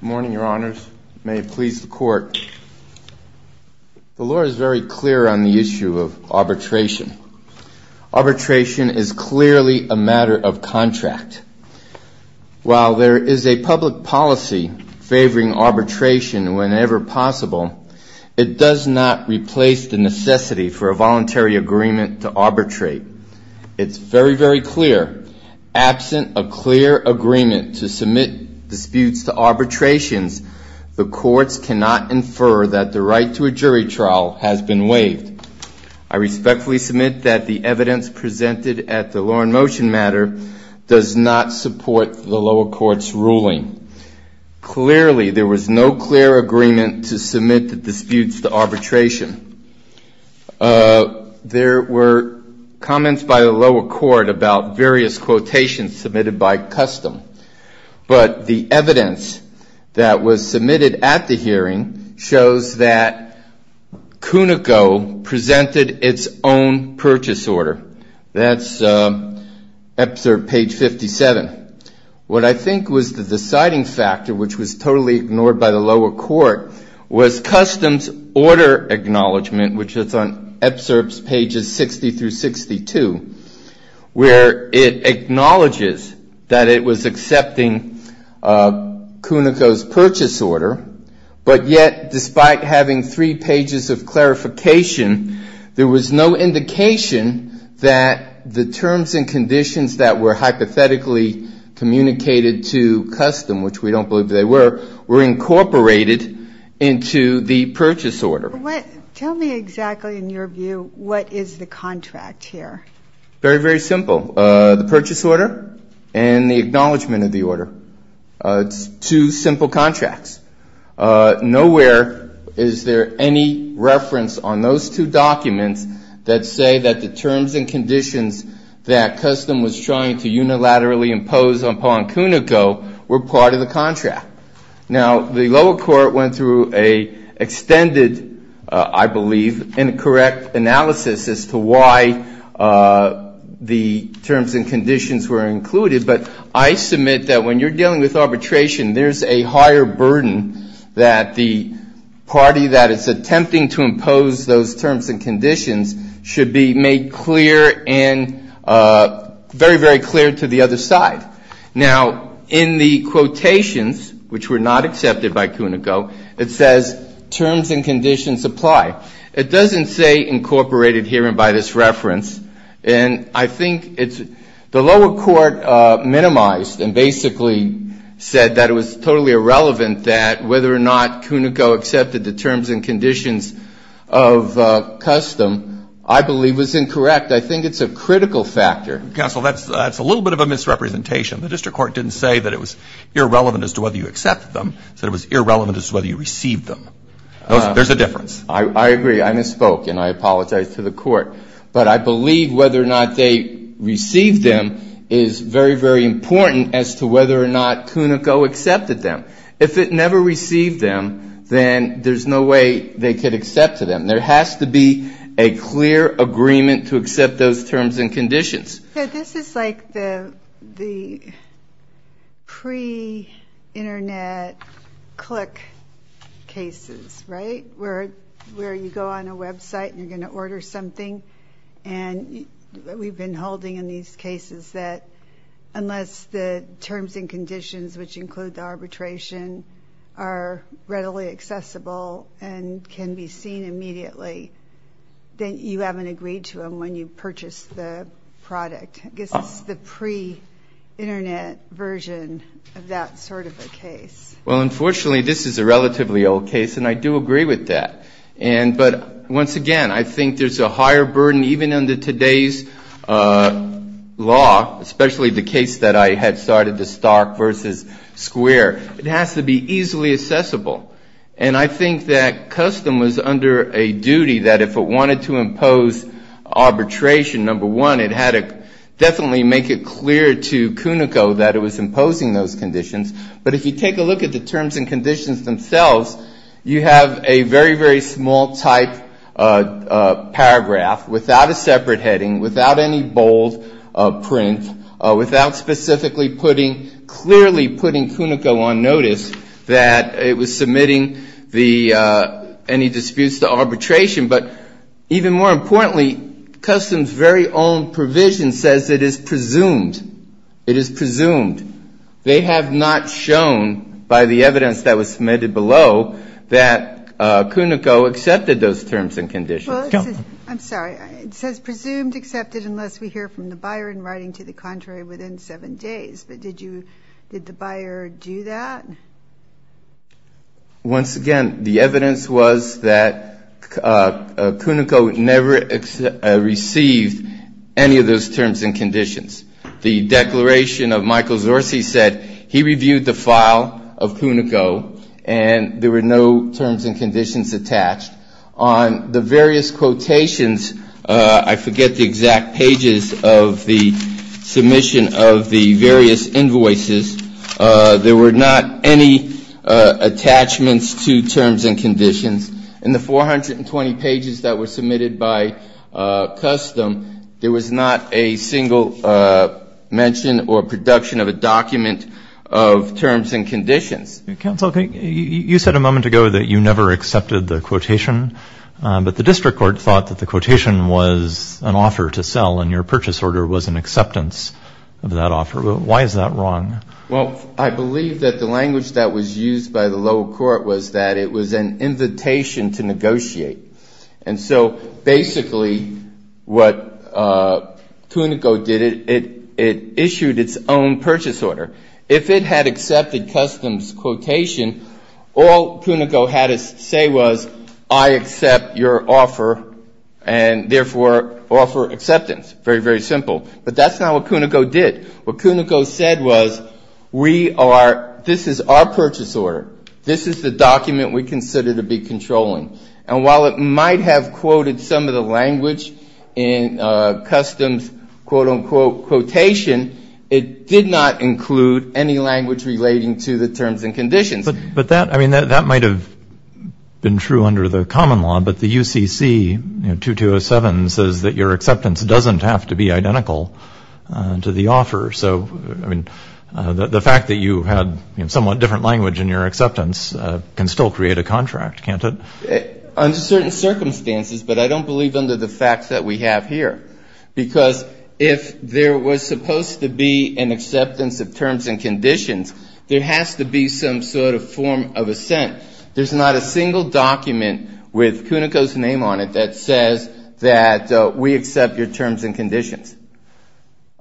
Good morning, your honors. May it please the court. The law is very clear on the issue of arbitration. Arbitration is clearly a matter of contract. While there is a public policy favoring arbitration whenever possible, it does not replace the necessity for a voluntary agreement to arbitrate. It's very, very clear. Absent a clear agreement to submit disputes to arbitrations, the courts cannot infer that the right to a jury trial has been waived. I respectfully submit that the evidence presented at the law in motion matter does not support the lower court's ruling. Clearly, there was no clear agreement to submit the disputes to arbitration. There were comments by the lower court about various quotations submitted by Custom. But the evidence that was submitted at the hearing shows that Cunico presented its own purchase order. That's excerpt page 57. What I think was the deciding factor, which was totally ignored by the lower court, was Custom's order acknowledgement, which is on excerpts pages 60 through 62, where it acknowledges that it was accepting Cunico's purchase order. But yet, despite having three pages of clarification, there was no indication that the terms and conditions that were hypothetically communicated to Custom, which we don't believe they were, were incorporated into the purchase order. Tell me exactly, in your view, what is the contract here? Very, very simple. The purchase order and the acknowledgement of the order. It's two simple contracts. Nowhere is there any reference on those two documents that say that the terms and conditions that Custom was trying to unilaterally impose upon Cunico were part of the contract. Now, the lower court went through an extended, I believe, incorrect analysis as to why the terms and conditions were included. But I submit that when you're dealing with arbitration, there's a higher burden that the party that is attempting to impose those terms and conditions should be made clear and very, very clear to the other side. Now, in the quotations, which were not accepted by Cunico, it says terms and conditions apply. It doesn't say incorporated here and by this reference. And I think it's the lower court minimized and basically said that it was totally irrelevant that whether or not Cunico accepted the terms and conditions of Custom, I believe, was incorrect. I think it's a critical factor. Counsel, that's a little bit of a misrepresentation. The district court didn't say that it was irrelevant as to whether you accepted them. It said it was irrelevant as to whether you received them. There's a difference. I agree. I misspoke and I apologize to the court. But I believe whether or not they received them is very, very important as to whether or not Cunico accepted them. If it never received them, then there's no way they could accept them. There has to be a clear agreement to accept those terms and conditions. This is like the pre-Internet click cases, right? Where you go on a website and you're going to order something and we've been holding in these cases that unless the terms and conditions, which include the arbitration, are readily accessible and can be seen immediately, then you haven't agreed to them when you purchase the product. I guess it's the pre-Internet version of that sort of a case. Well, unfortunately, this is a relatively old case, and I do agree with that. But once again, I think there's a higher burden even under today's law, especially the case that I had started, the Stark v. Square. It has to be easily accessible. And I think that custom was under a duty that if it wanted to impose arbitration, number one, it had to definitely make it clear to Cunico that it was imposing those conditions. But if you take a look at the terms and conditions themselves, you have a very, very small type paragraph without a separate heading, without any bold print, without specifically putting, clearly putting Cunico on notice that it was submitting any disputes to arbitration. But even more importantly, custom's very own provision says it is presumed. It is presumed. They have not shown by the evidence that was submitted below that Cunico accepted those terms and conditions. I'm sorry. It says presumed, accepted, unless we hear from the buyer in writing to the contrary within seven days. But did the buyer do that? Once again, the evidence was that Cunico never received any of those terms and conditions. The declaration of Michael Zorci said he reviewed the file of Cunico and there were no terms and conditions attached. On the various quotations, I forget the exact pages of the submission of the documents, there were not any attachments to terms and conditions. In the 420 pages that were submitted by custom, there was not a single mention or production of a document of terms and conditions. Counsel, you said a moment ago that you never accepted the quotation, but the district court thought that the quotation was an offer to sell and your purchase order was an acceptance of that offer. Why is that wrong? Well, I believe that the language that was used by the lower court was that it was an invitation to negotiate. And so basically what Cunico did, it issued its own purchase order. If it had accepted custom's quotation, all Cunico had to say was I accept your offer and therefore offer acceptance. Very, very simple. But that's not what Cunico did. What Cunico said was we are, this is our purchase order. This is the document we consider to be controlling. And while it might have quoted some of the language in custom's quote, unquote quotation, it did not include any language relating to the terms and conditions. But that, I mean, that might have been true under the common law, but the UCC 2207 says that your acceptance doesn't have to be identical to the offer. So, I mean, the fact that you had somewhat different language in your acceptance can still create a contract, can't it? Under certain circumstances, but I don't believe under the facts that we have here. Because if there was supposed to be an acceptance of terms and conditions, there has to be some sort of form of assent. There's not a single document with Cunico's name on it that says that we accept your terms and conditions.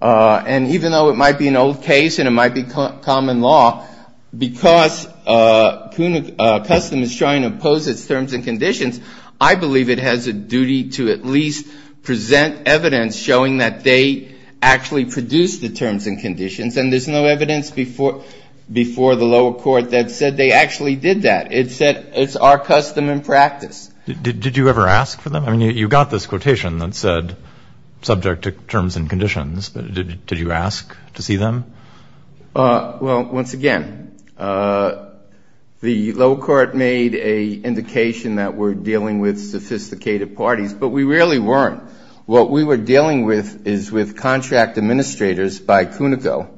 And even though it might be an old case and it might be common law, because custom is trying to impose its terms and conditions, I believe it has a duty to at least present evidence showing that they actually produced the terms and conditions. And there's no evidence before the lower court that said they actually did that. It said it's our custom and practice. Did you ever ask for them? I mean, you got this quotation that said subject to terms and conditions, but did you ask to see them? Well, once again, the lower court made an indication that we're dealing with sophisticated parties, but we really weren't. What we were dealing with is with contract administrators by Cunico.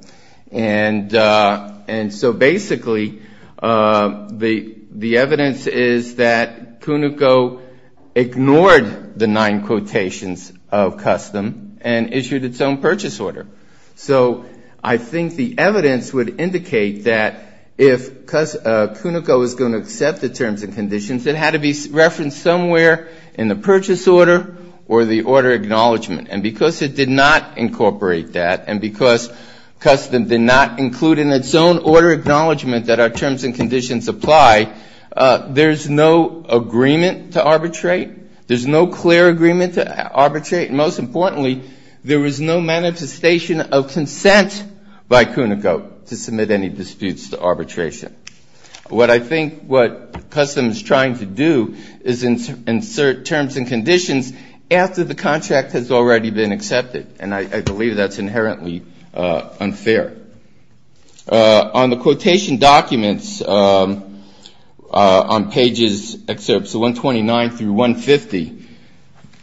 And so basically the evidence is that Cunico ignored the nine quotations of custom and issued its own purchase order. So I think the evidence would indicate that if Cunico is going to accept the terms and conditions, there has to be order acknowledgment. And because it did not incorporate that and because custom did not include in its own order acknowledgment that our terms and conditions apply, there's no agreement to arbitrate. There's no clear agreement to arbitrate. And most importantly, there is no manifestation of consent by Cunico to submit any disputes to arbitration. What I think what custom is trying to do is insert terms and conditions after the contract has already been accepted. And I believe that's inherently unfair. On the quotation documents on pages 129 through 150,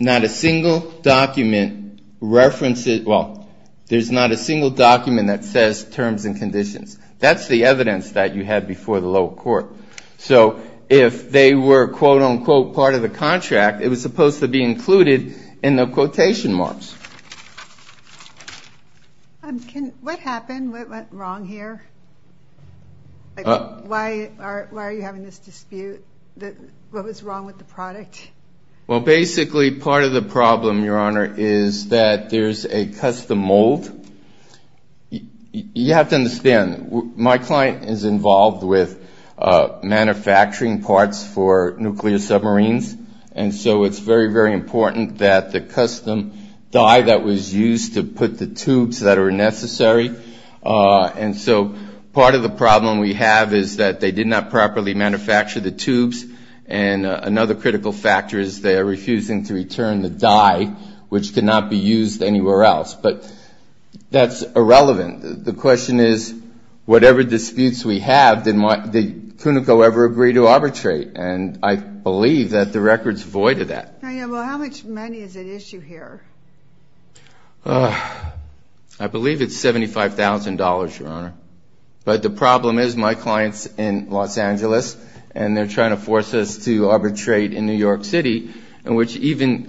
not a single document references, well, there's not a single document that says terms and conditions. That's the evidence that you had before the lower court. So if they were, quote, unquote, part of the contract, it was supposed to be included in the quotation marks. What happened? What went wrong here? Why are you having this dispute? What was wrong with the product? Well, basically part of the problem, Your Honor, is that there's a custom mold. You have to understand, my client is involved with manufacturing parts for nuclear submarines. And so it's very, very important that the custom die that was used to put the tubes that are necessary. And so part of the problem we have is that they did not properly manufacture the tubes. And another critical factor is they are refusing to return the die, which cannot be used anywhere else. But that's irrelevant. The question is, whatever disputes we have, did CUNICO ever agree to arbitrate? And I believe that the record's void of that. I believe it's $75,000, Your Honor. But the problem is my client's in Los Angeles, and they're trying to force us to arbitrate in New York City, which even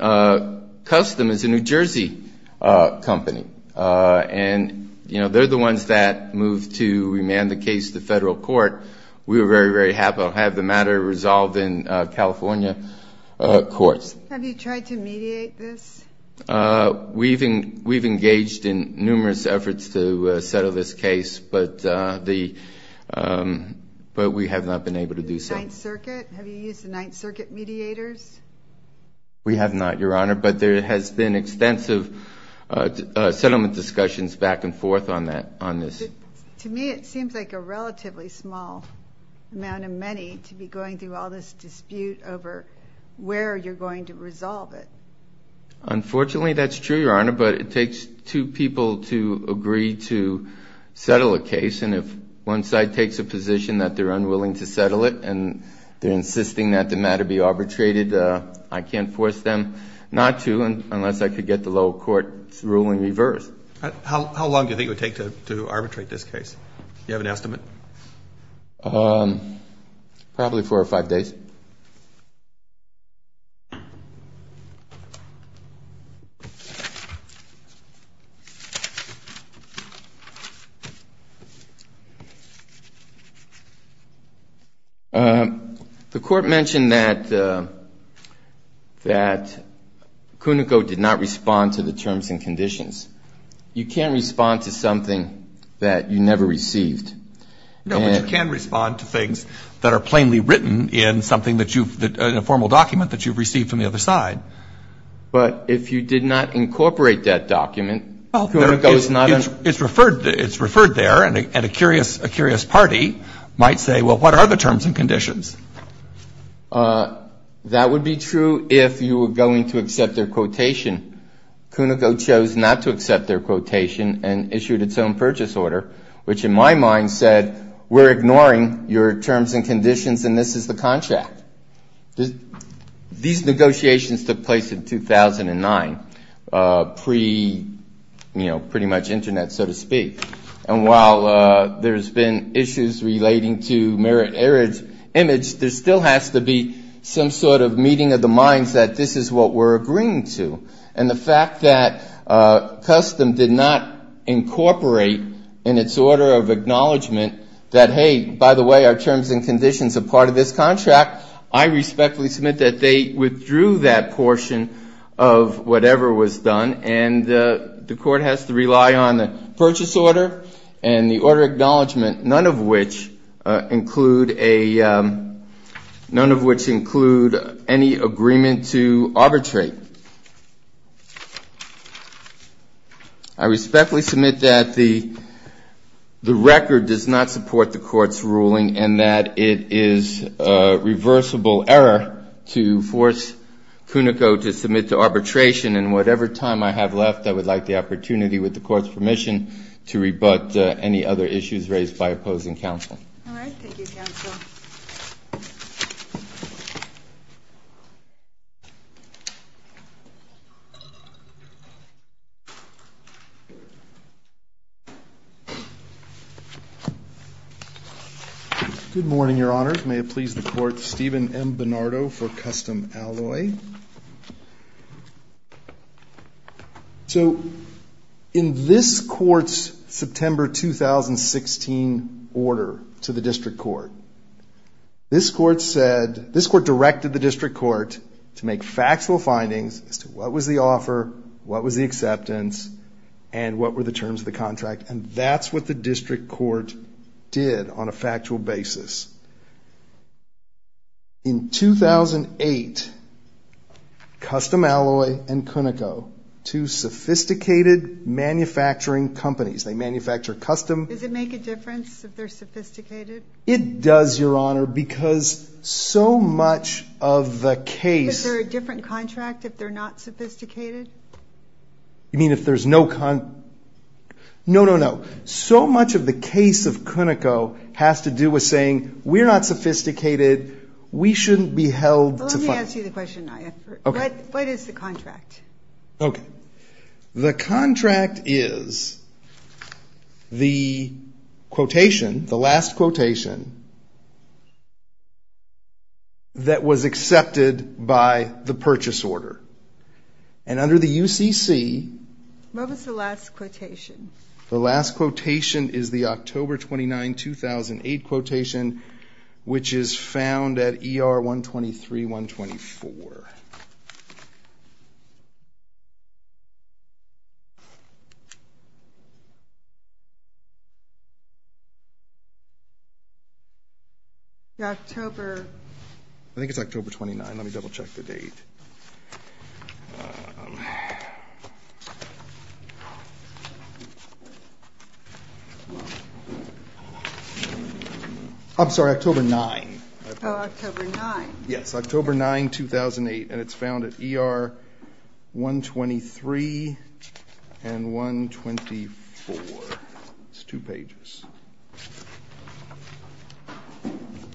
custom is a New Jersey company. And, you know, they're the ones that moved to remand the case to federal court. We were very, very happy to have the matter resolved in California courts. Have you tried to mediate this? We've engaged in numerous efforts to settle this case, but we have not been able to do so. The Ninth Circuit? Have you used the Ninth Circuit mediators? We have not, Your Honor, but there has been extensive settlement discussions back and forth on this. To me it seems like a relatively small amount of money to be going through all this dispute over where you're going to resolve it. Unfortunately, that's true, Your Honor, but it takes two people to agree to settle a case. And if one side takes a position that they're unwilling to settle it and they're insisting that the matter be arbitrated, I can't force them not to unless I could get the lower court's ruling reversed. How long do you think it would take to arbitrate this case? Do you have an estimate? Probably four or five days. The court mentioned that CUNICO did not respond to the terms and conditions. You can't respond to something that you never received. No, but you can respond to things that are plainly written in a formal document that you've received from the other side. But if you did not incorporate that document, CUNICO is not going to... It's referred there, and a curious party might say, well, what are the terms and conditions? That would be true if you were going to accept their quotation. CUNICO chose not to accept their quotation and issued its own purchase order, which in my mind said, we're ignoring your terms and conditions, and this is the contract. These negotiations took place in 2009, pre, you know, pretty much Internet, so to speak. And while there's been issues relating to merit-error image, there still has to be some sort of meeting of the minds that this is what we're agreeing to. And the fact that CUSTM did not incorporate in its order of acknowledgement that, hey, by the way, our terms and conditions are part of this contract, I respectfully submit that they withdrew that portion of whatever was done, and the court has to rely on the purchase order and the order of acknowledgement, none of which include any agreement to arbitrate. I respectfully submit that the record does not support the Court's ruling and that it is a reversible error to force CUNICO to submit to arbitration, and whatever time I have left, I would like the opportunity, with the Court's permission, to rebut any other issues raised by opposing counsel. All right. Thank you, counsel. Good morning, Your Honors. May it please the Court, Stephen M. Bernardo for CUSTM Alloy. So, in this Court's September 2016 order to the District Court, this Court directed the District Court to make factual findings as to what was the offer, what was the acceptance, and what were the terms of the contract, and that's what the District Court did on a factual basis. In 2008, CUSTM Alloy and CUNICO, two sophisticated manufacturing companies, they manufacture custom... Does it make a difference if they're sophisticated? It does, Your Honor, because so much of the case... Is there a different contract if they're not sophisticated? You mean if there's no... No, no, no. So much of the case of CUNICO has to do with saying, we're not sophisticated, we shouldn't be held to... Let me ask you the question, Nia. What is the contract? Okay. The contract is the quotation, the last quotation, that was accepted by the purchase order. And under the UCC... What was the last quotation? The last quotation is the October 29, 2008 quotation, which is found at ER 123-124. The October... I think it's October 29. Let me double-check the date. I'm sorry, October 9. Oh, October 9. Yes, October 9, 2008, and it's found at ER 123-124. It's two pages.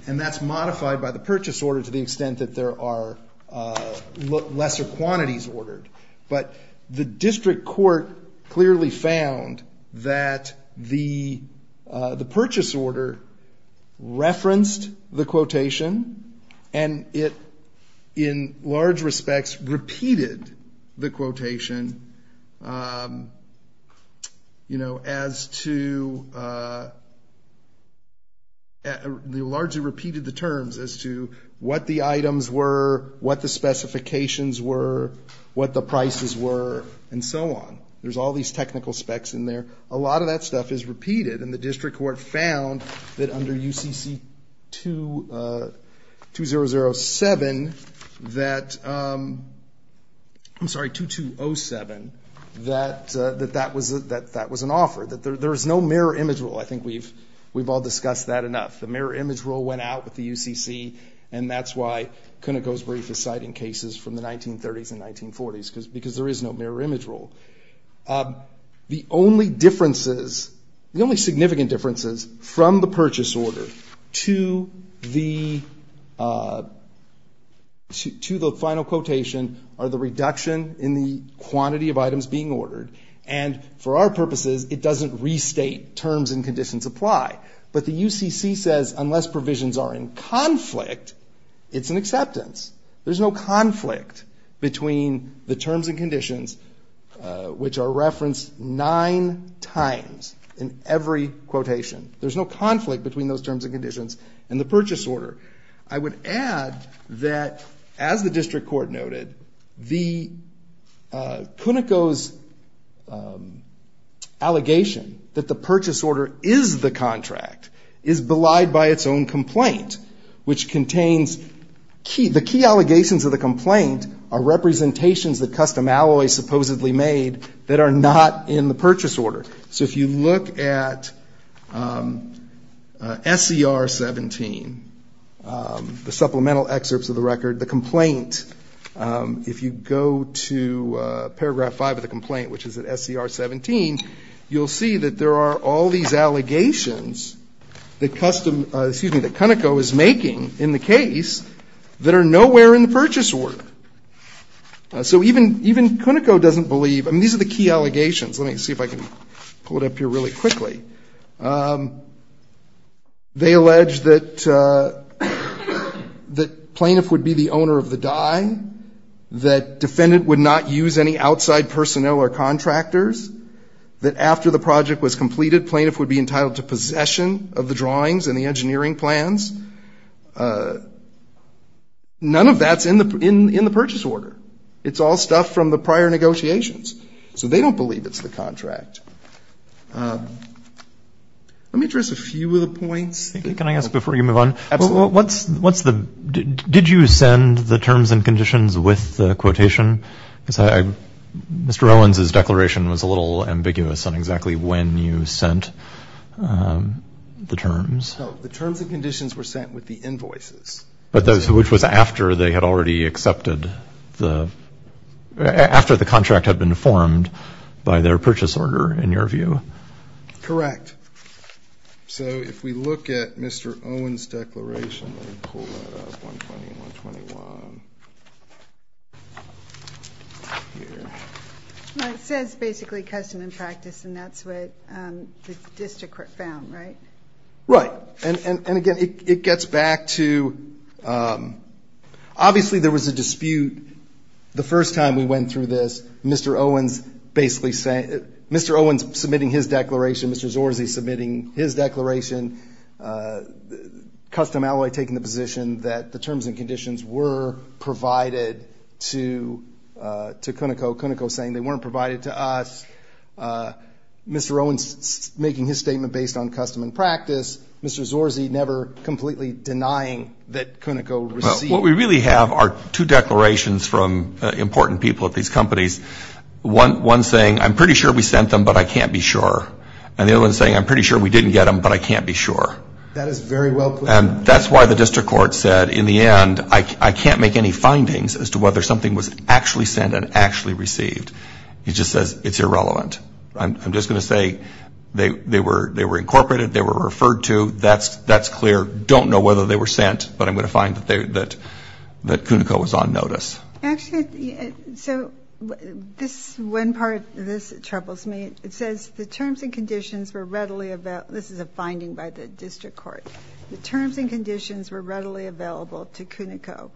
And that's modified by the purchase order to the extent that there are lesser quantities ordered. But the district court clearly found that the purchase order referenced the quotation, and it, in large respects, repeated the quotation as to... Largely repeated the terms as to what the items were, what the specifications were, what the prices were, and so on. There's all these technical specs in there. A lot of that stuff is repeated, and the district court found that under UCC 2007 that that was an offer. There's no mirror image rule. I think we've all discussed that enough. The mirror image rule went out with the UCC, and that's why Kunneco's brief is citing cases from the 1930s and 1940s, because there is no mirror image rule. The only differences, the only significant differences from the purchase order to the final quotation are the reduction in the quantity of items being ordered. And for our purposes, it doesn't restate terms and conditions apply. But the UCC says unless provisions are in conflict, it's an acceptance. There's no conflict between the terms and conditions, which are referenced nine times in every quotation. There's no conflict between those terms and conditions and the purchase order. I would add that, as the district court noted, the Kunneco's allegation that the purchase order is the contract is belied by its own complaint, which contains... The key allegations of the complaint are representations that Custom Alloys supposedly made that are not in the purchase order. So if you look at SCR 17, the supplemental excerpts of the record, the complaint, if you go to paragraph 5 of the complaint, which is at SCR 17, you'll see that there are all these allegations that Custom, excuse me, that Kunneco is making in the case that are nowhere in the purchase order. So even Kunneco doesn't believe... I mean, these are the key allegations. Let me see if I can pull it up here really quickly. They allege that plaintiff would be the owner of the dye, that defendant would not use any outside personnel or contractors, that after the project was completed, plaintiff would be entitled to possession of the drawings and the engineering plans. None of that's in the purchase order. It's all stuff from the prior negotiations. So they don't believe it's the contract. Let me address a few of the points. Did you send the terms and conditions with the quotation? Mr. Owens' declaration was a little ambiguous on exactly when you sent the terms. No, the terms and conditions were sent with the invoices. Which was after the contract had been formed by their purchase order, in your view? Correct. So if we look at Mr. Owens' declaration, let me pull that up, 120 and 121. It says basically custom and practice, and that's what the district found, right? Right. And again, it gets back to... Obviously there was a dispute the first time we went through this. Mr. Owens basically said... Mr. Owens submitting his declaration, Mr. Zorzi submitting his declaration, Custom Alloy taking the position that the terms and conditions were provided to Cuneco, Cuneco saying they weren't provided to us. Mr. Owens making his statement based on custom and practice, Mr. Zorzi never completely denying that Cuneco received... What we really have are two declarations from important people at these companies. One saying, I'm pretty sure we sent them, but I can't be sure. And the other one saying, I'm pretty sure we didn't get them, but I can't be sure. And that's why the district court said, in the end, I can't make any findings as to whether something was actually sent and actually received. It just says it's irrelevant. I'm just going to say they were incorporated, they were referred to, that's clear. Don't know whether they were sent, but I'm going to find that Cuneco was on notice. One part of this troubles me. It says the terms and conditions were readily available. This is a finding by the district court. The terms and conditions were readily available to Cuneco.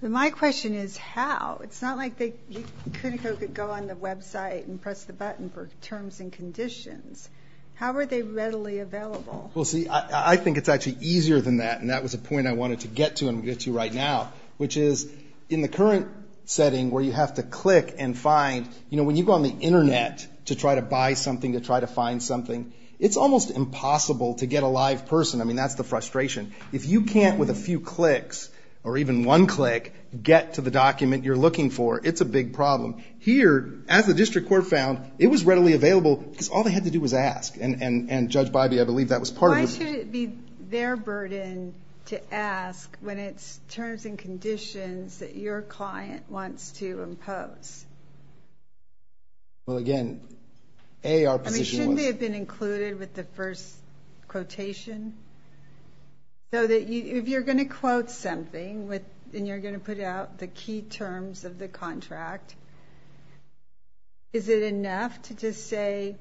My question is how? It's not like Cuneco could go on the website and press the button for terms and conditions. How are they readily available? I think it's actually easier than that, and that was a point I wanted to get to, and I'm going to get to right now, which is in the current setting where you have to click and find... When you go on the Internet to try to buy something, to try to find something, it's almost impossible to get a live person. I mean, that's the frustration. If you can't, with a few clicks, or even one click, get to the document you're looking for, it's a big problem. Here, as the district court found, it was readily available because all they had to do was ask, and Judge Bybee, I believe that was part of... Why should it be their burden to ask when it's terms and conditions that your client wants to impose? Well, again, A, our position was... I mean, shouldn't they have been included with the first quotation? If you're going to quote something, and you're going to put out the key terms of the contract, is it enough to just say,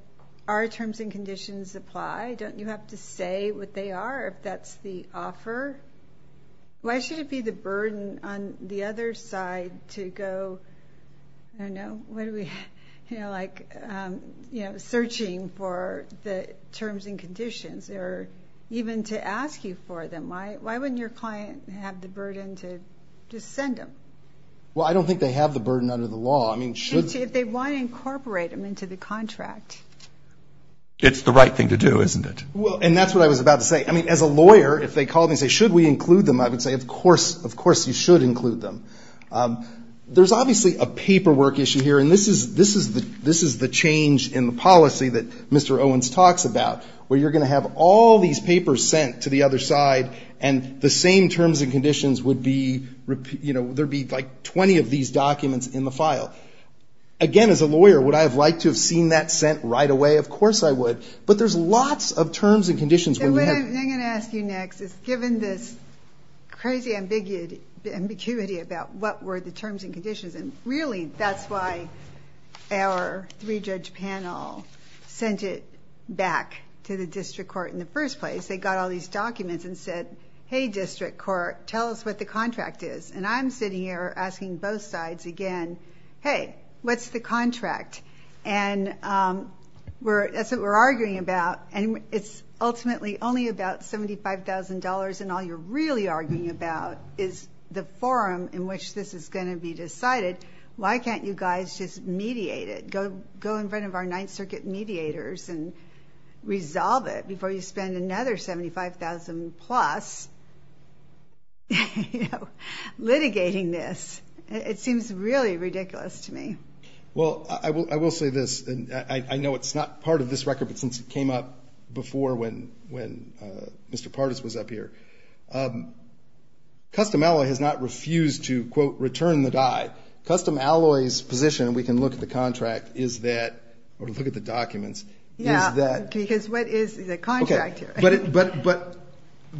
our terms and conditions apply? Don't you have to say what they are, if that's the offer? Why should it be the burden on the other side to go, I don't know, what do we... searching for the terms and conditions, or even to ask you for them? Why wouldn't your client have the burden to just send them? Well, I don't think they have the burden under the law. I mean, should... If they want to incorporate them into the contract. It's the right thing to do, isn't it? Well, and that's what I was about to say. I mean, as a lawyer, if they call me and say, should we include them? I would say, of course, you should include them. There's obviously a paperwork issue here, and this is the change in the policy that Mr. Owens talks about, where you're going to have all these papers sent to the other side, and the same terms and conditions would be, you know, there would be like 20 of these documents in the file. Again, as a lawyer, would I have liked to have seen that sent right away? Of course I would. But there's lots of terms and conditions where we have... So what I'm going to ask you next is, given this crazy ambiguity about what were the terms and conditions, and really, that's why our three-judge panel sent it back to the district court in the first place. They got all these documents and said, hey, district court, tell us what the contract is. And I'm sitting here asking both sides again, hey, what's the contract? And that's what we're arguing about, and it's ultimately only about $75,000, and all you're really arguing about is the forum in which this is going to be decided. Why can't you guys just mediate it? Go in front of our Ninth Circuit mediators and make sure you spend another $75,000 plus litigating this. It seems really ridiculous to me. Well, I will say this. I know it's not part of this record, but since it came up before when Mr. Pardes was up here, Custom Alloy has not refused to, quote, return the die. Custom Alloy's position, we can look at the contract, or look at the documents. But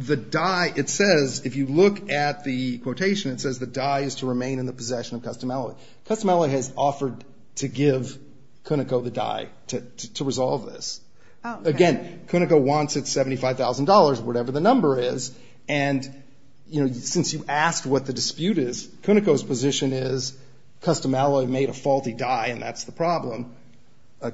the die, it says, if you look at the quotation, it says the die is to remain in the possession of Custom Alloy. Custom Alloy has offered to give Cunico the die to resolve this. Again, Cunico wants its $75,000, whatever the number is, and since you asked what the dispute is, Cunico's position is Custom Alloy made a faulty die, and that's the problem.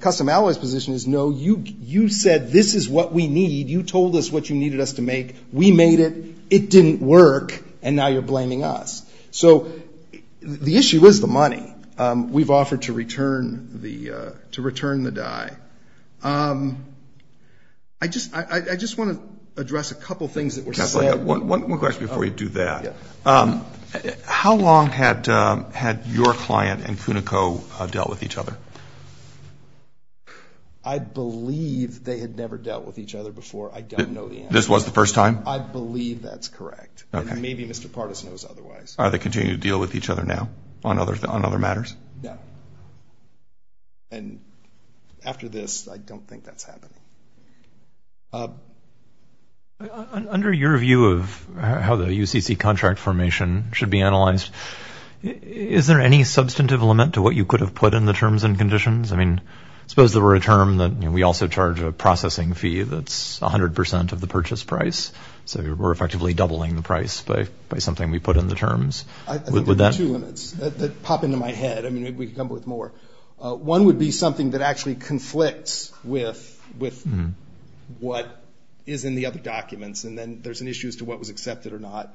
Custom Alloy's position is, no, you said this is what we need. You told us what you needed us to make. We made it. It didn't work, and now you're blaming us. The issue is the money we've offered to return the die. I just want to address a couple things that were said. How long had your client and Cunico dealt with each other? I believe they had never dealt with each other before. I don't know the answer. This was the first time? I believe that's correct, and maybe Mr. Pardes knows otherwise. Are they continuing to deal with each other now on other matters? No. And after this, I don't think that's happening. Under your view of how the UCC contract formation should be analyzed, is there any substantive limit to what you could have put in the terms and conditions? I mean, suppose there were a term that we also charge a processing fee that's 100% of the purchase price, so we're effectively doubling the price by something we put in the terms. I think there are two limits that pop into my head. I mean, maybe we could come up with more. One would be something that actually conflicts with what is in the other documents, and then there's an issue as to what was accepted or not.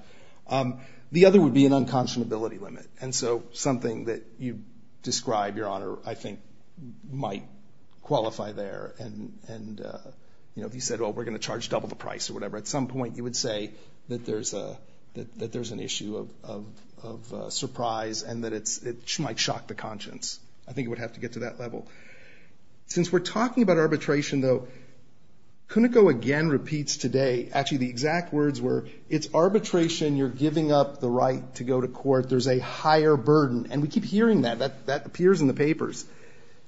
The other would be an unconscionability limit, and so something that you describe, Your Honor, I think might qualify there. And if you said, well, we're going to charge double the price or whatever, at some point you would say that there's an issue of surprise and that it might shock the conscience. I think it would have to get to that level. Since we're talking about arbitration, though, Kuniko again repeats today, actually the exact words were, it's arbitration, you're giving up the right to go to court, there's a higher burden. And we keep hearing that. That appears in the papers.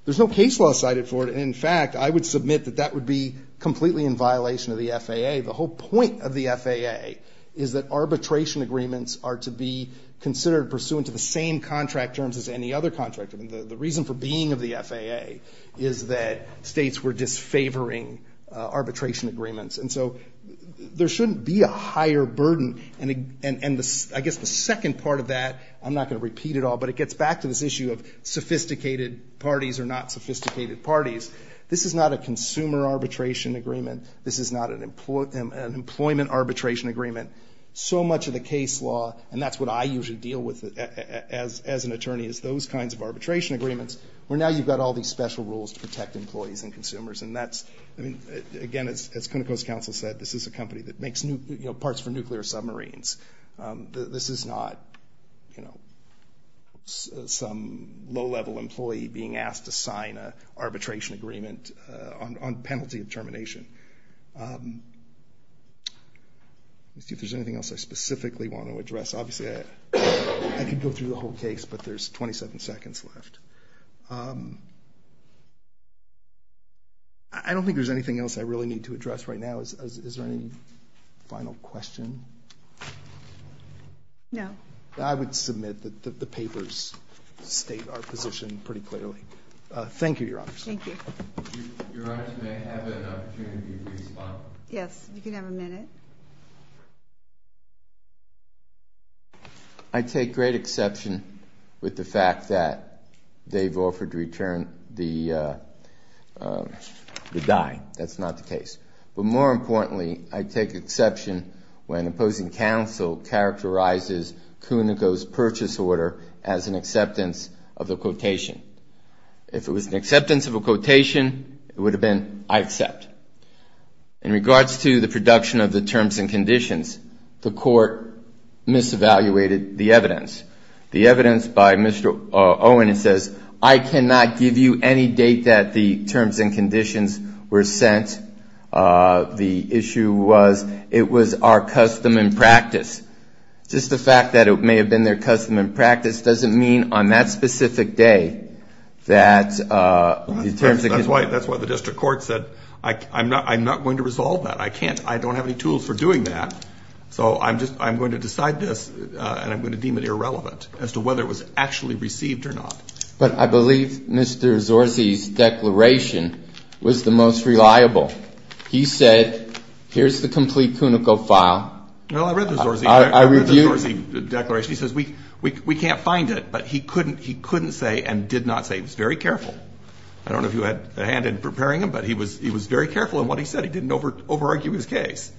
There's no case law cited for it. In fact, I would submit that that would be completely in violation of the FAA. The whole point of the FAA is that arbitration agreements are to be considered pursuant to the same contract terms as any other contract. I mean, the reason for being of the FAA is that states were disfavoring arbitration agreements, and so there shouldn't be a higher burden. And I guess the second part of that, I'm not going to repeat it all, but it gets back to this issue of sophisticated parties are not sophisticated parties. This is not a consumer arbitration agreement. This is not an employment arbitration agreement. So much of the case law, and that's what I usually deal with as an attorney, is those kinds of arbitration agreements, where now you've got all these special rules to protect employees and consumers. And that's, I mean, again, as Conoco's counsel said, this is a company that makes parts for nuclear submarines. This is not some low-level employee being asked to sign an arbitration agreement on penalty of termination. Let's see if there's anything else I specifically want to address. Obviously, I could go through the whole case, but there's 27 seconds left. I don't think there's anything else I really need to address right now. Is there any final question? No. I would submit that the papers state our position pretty clearly. Thank you, Your Honors. Thank you. Your Honors, may I have an opportunity to respond? Yes, you can have a minute. I take great exception with the fact that they've offered to return the die. That's not the case. But more importantly, I take exception when opposing counsel characterizes Conoco's purchase order as an acceptance of the quotation. If it was an acceptance of a quotation, it would have been I accept. In regards to the production of the terms and conditions, the court mis-evaluated the evidence. The evidence by Mr. Owen, it says, I cannot give you any date that the terms and conditions were sent. The issue was it was our custom and practice. Just the fact that it may have been their custom and practice doesn't mean on that That's why the district court said, I'm not going to resolve that. I don't have any tools for doing that. So I'm going to decide this, and I'm going to deem it irrelevant as to whether it was actually received or not. But I believe Mr. Zorzi's declaration was the most reliable. He said, here's the complete Conoco file. Well, I read the Zorzi declaration. He says, we can't find it. But he couldn't say and did not say, he was very careful. I don't know if you had a hand in preparing him, but he was very careful in what he said. He didn't over-argue his case.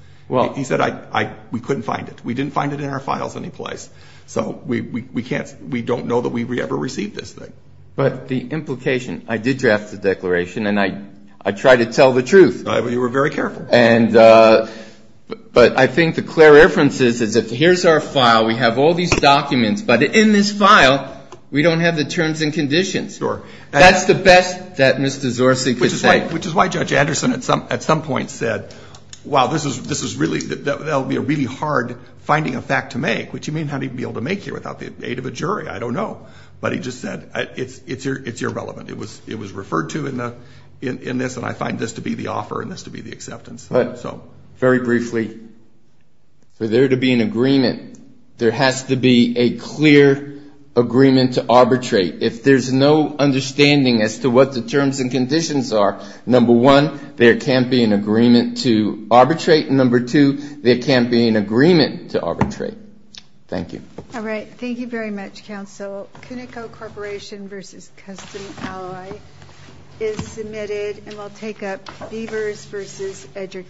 He said, we couldn't find it. We didn't find it in our files anyplace. So we can't, we don't know that we ever received this thing. But the implication, I did draft the declaration, and I tried to tell the truth. You were very careful. But I think the clear reference is that here's our file. We have all these documents. But in this file, we don't have the terms and conditions. Sure. That's the best that Mr. Zorzi could say. Which is why Judge Anderson at some point said, wow, this is really, that will be really hard finding a fact to make, which you may not even be able to make here without the aid of a jury. I don't know. But he just said, it's irrelevant. It was referred to in this, and I find this to be the offer and this to be the acceptance. Very briefly, for there to be an agreement, there has to be a clear agreement to arbitrate. If there's no understanding as to what the terms and conditions are, number one, there can't be an agreement to arbitrate. Number two, there can't be an agreement to arbitrate. Thank you. All right. Thank you very much, counsel. CUNICO Corporation v. Customs Ally is submitted, and we'll take up Beavers v. Education.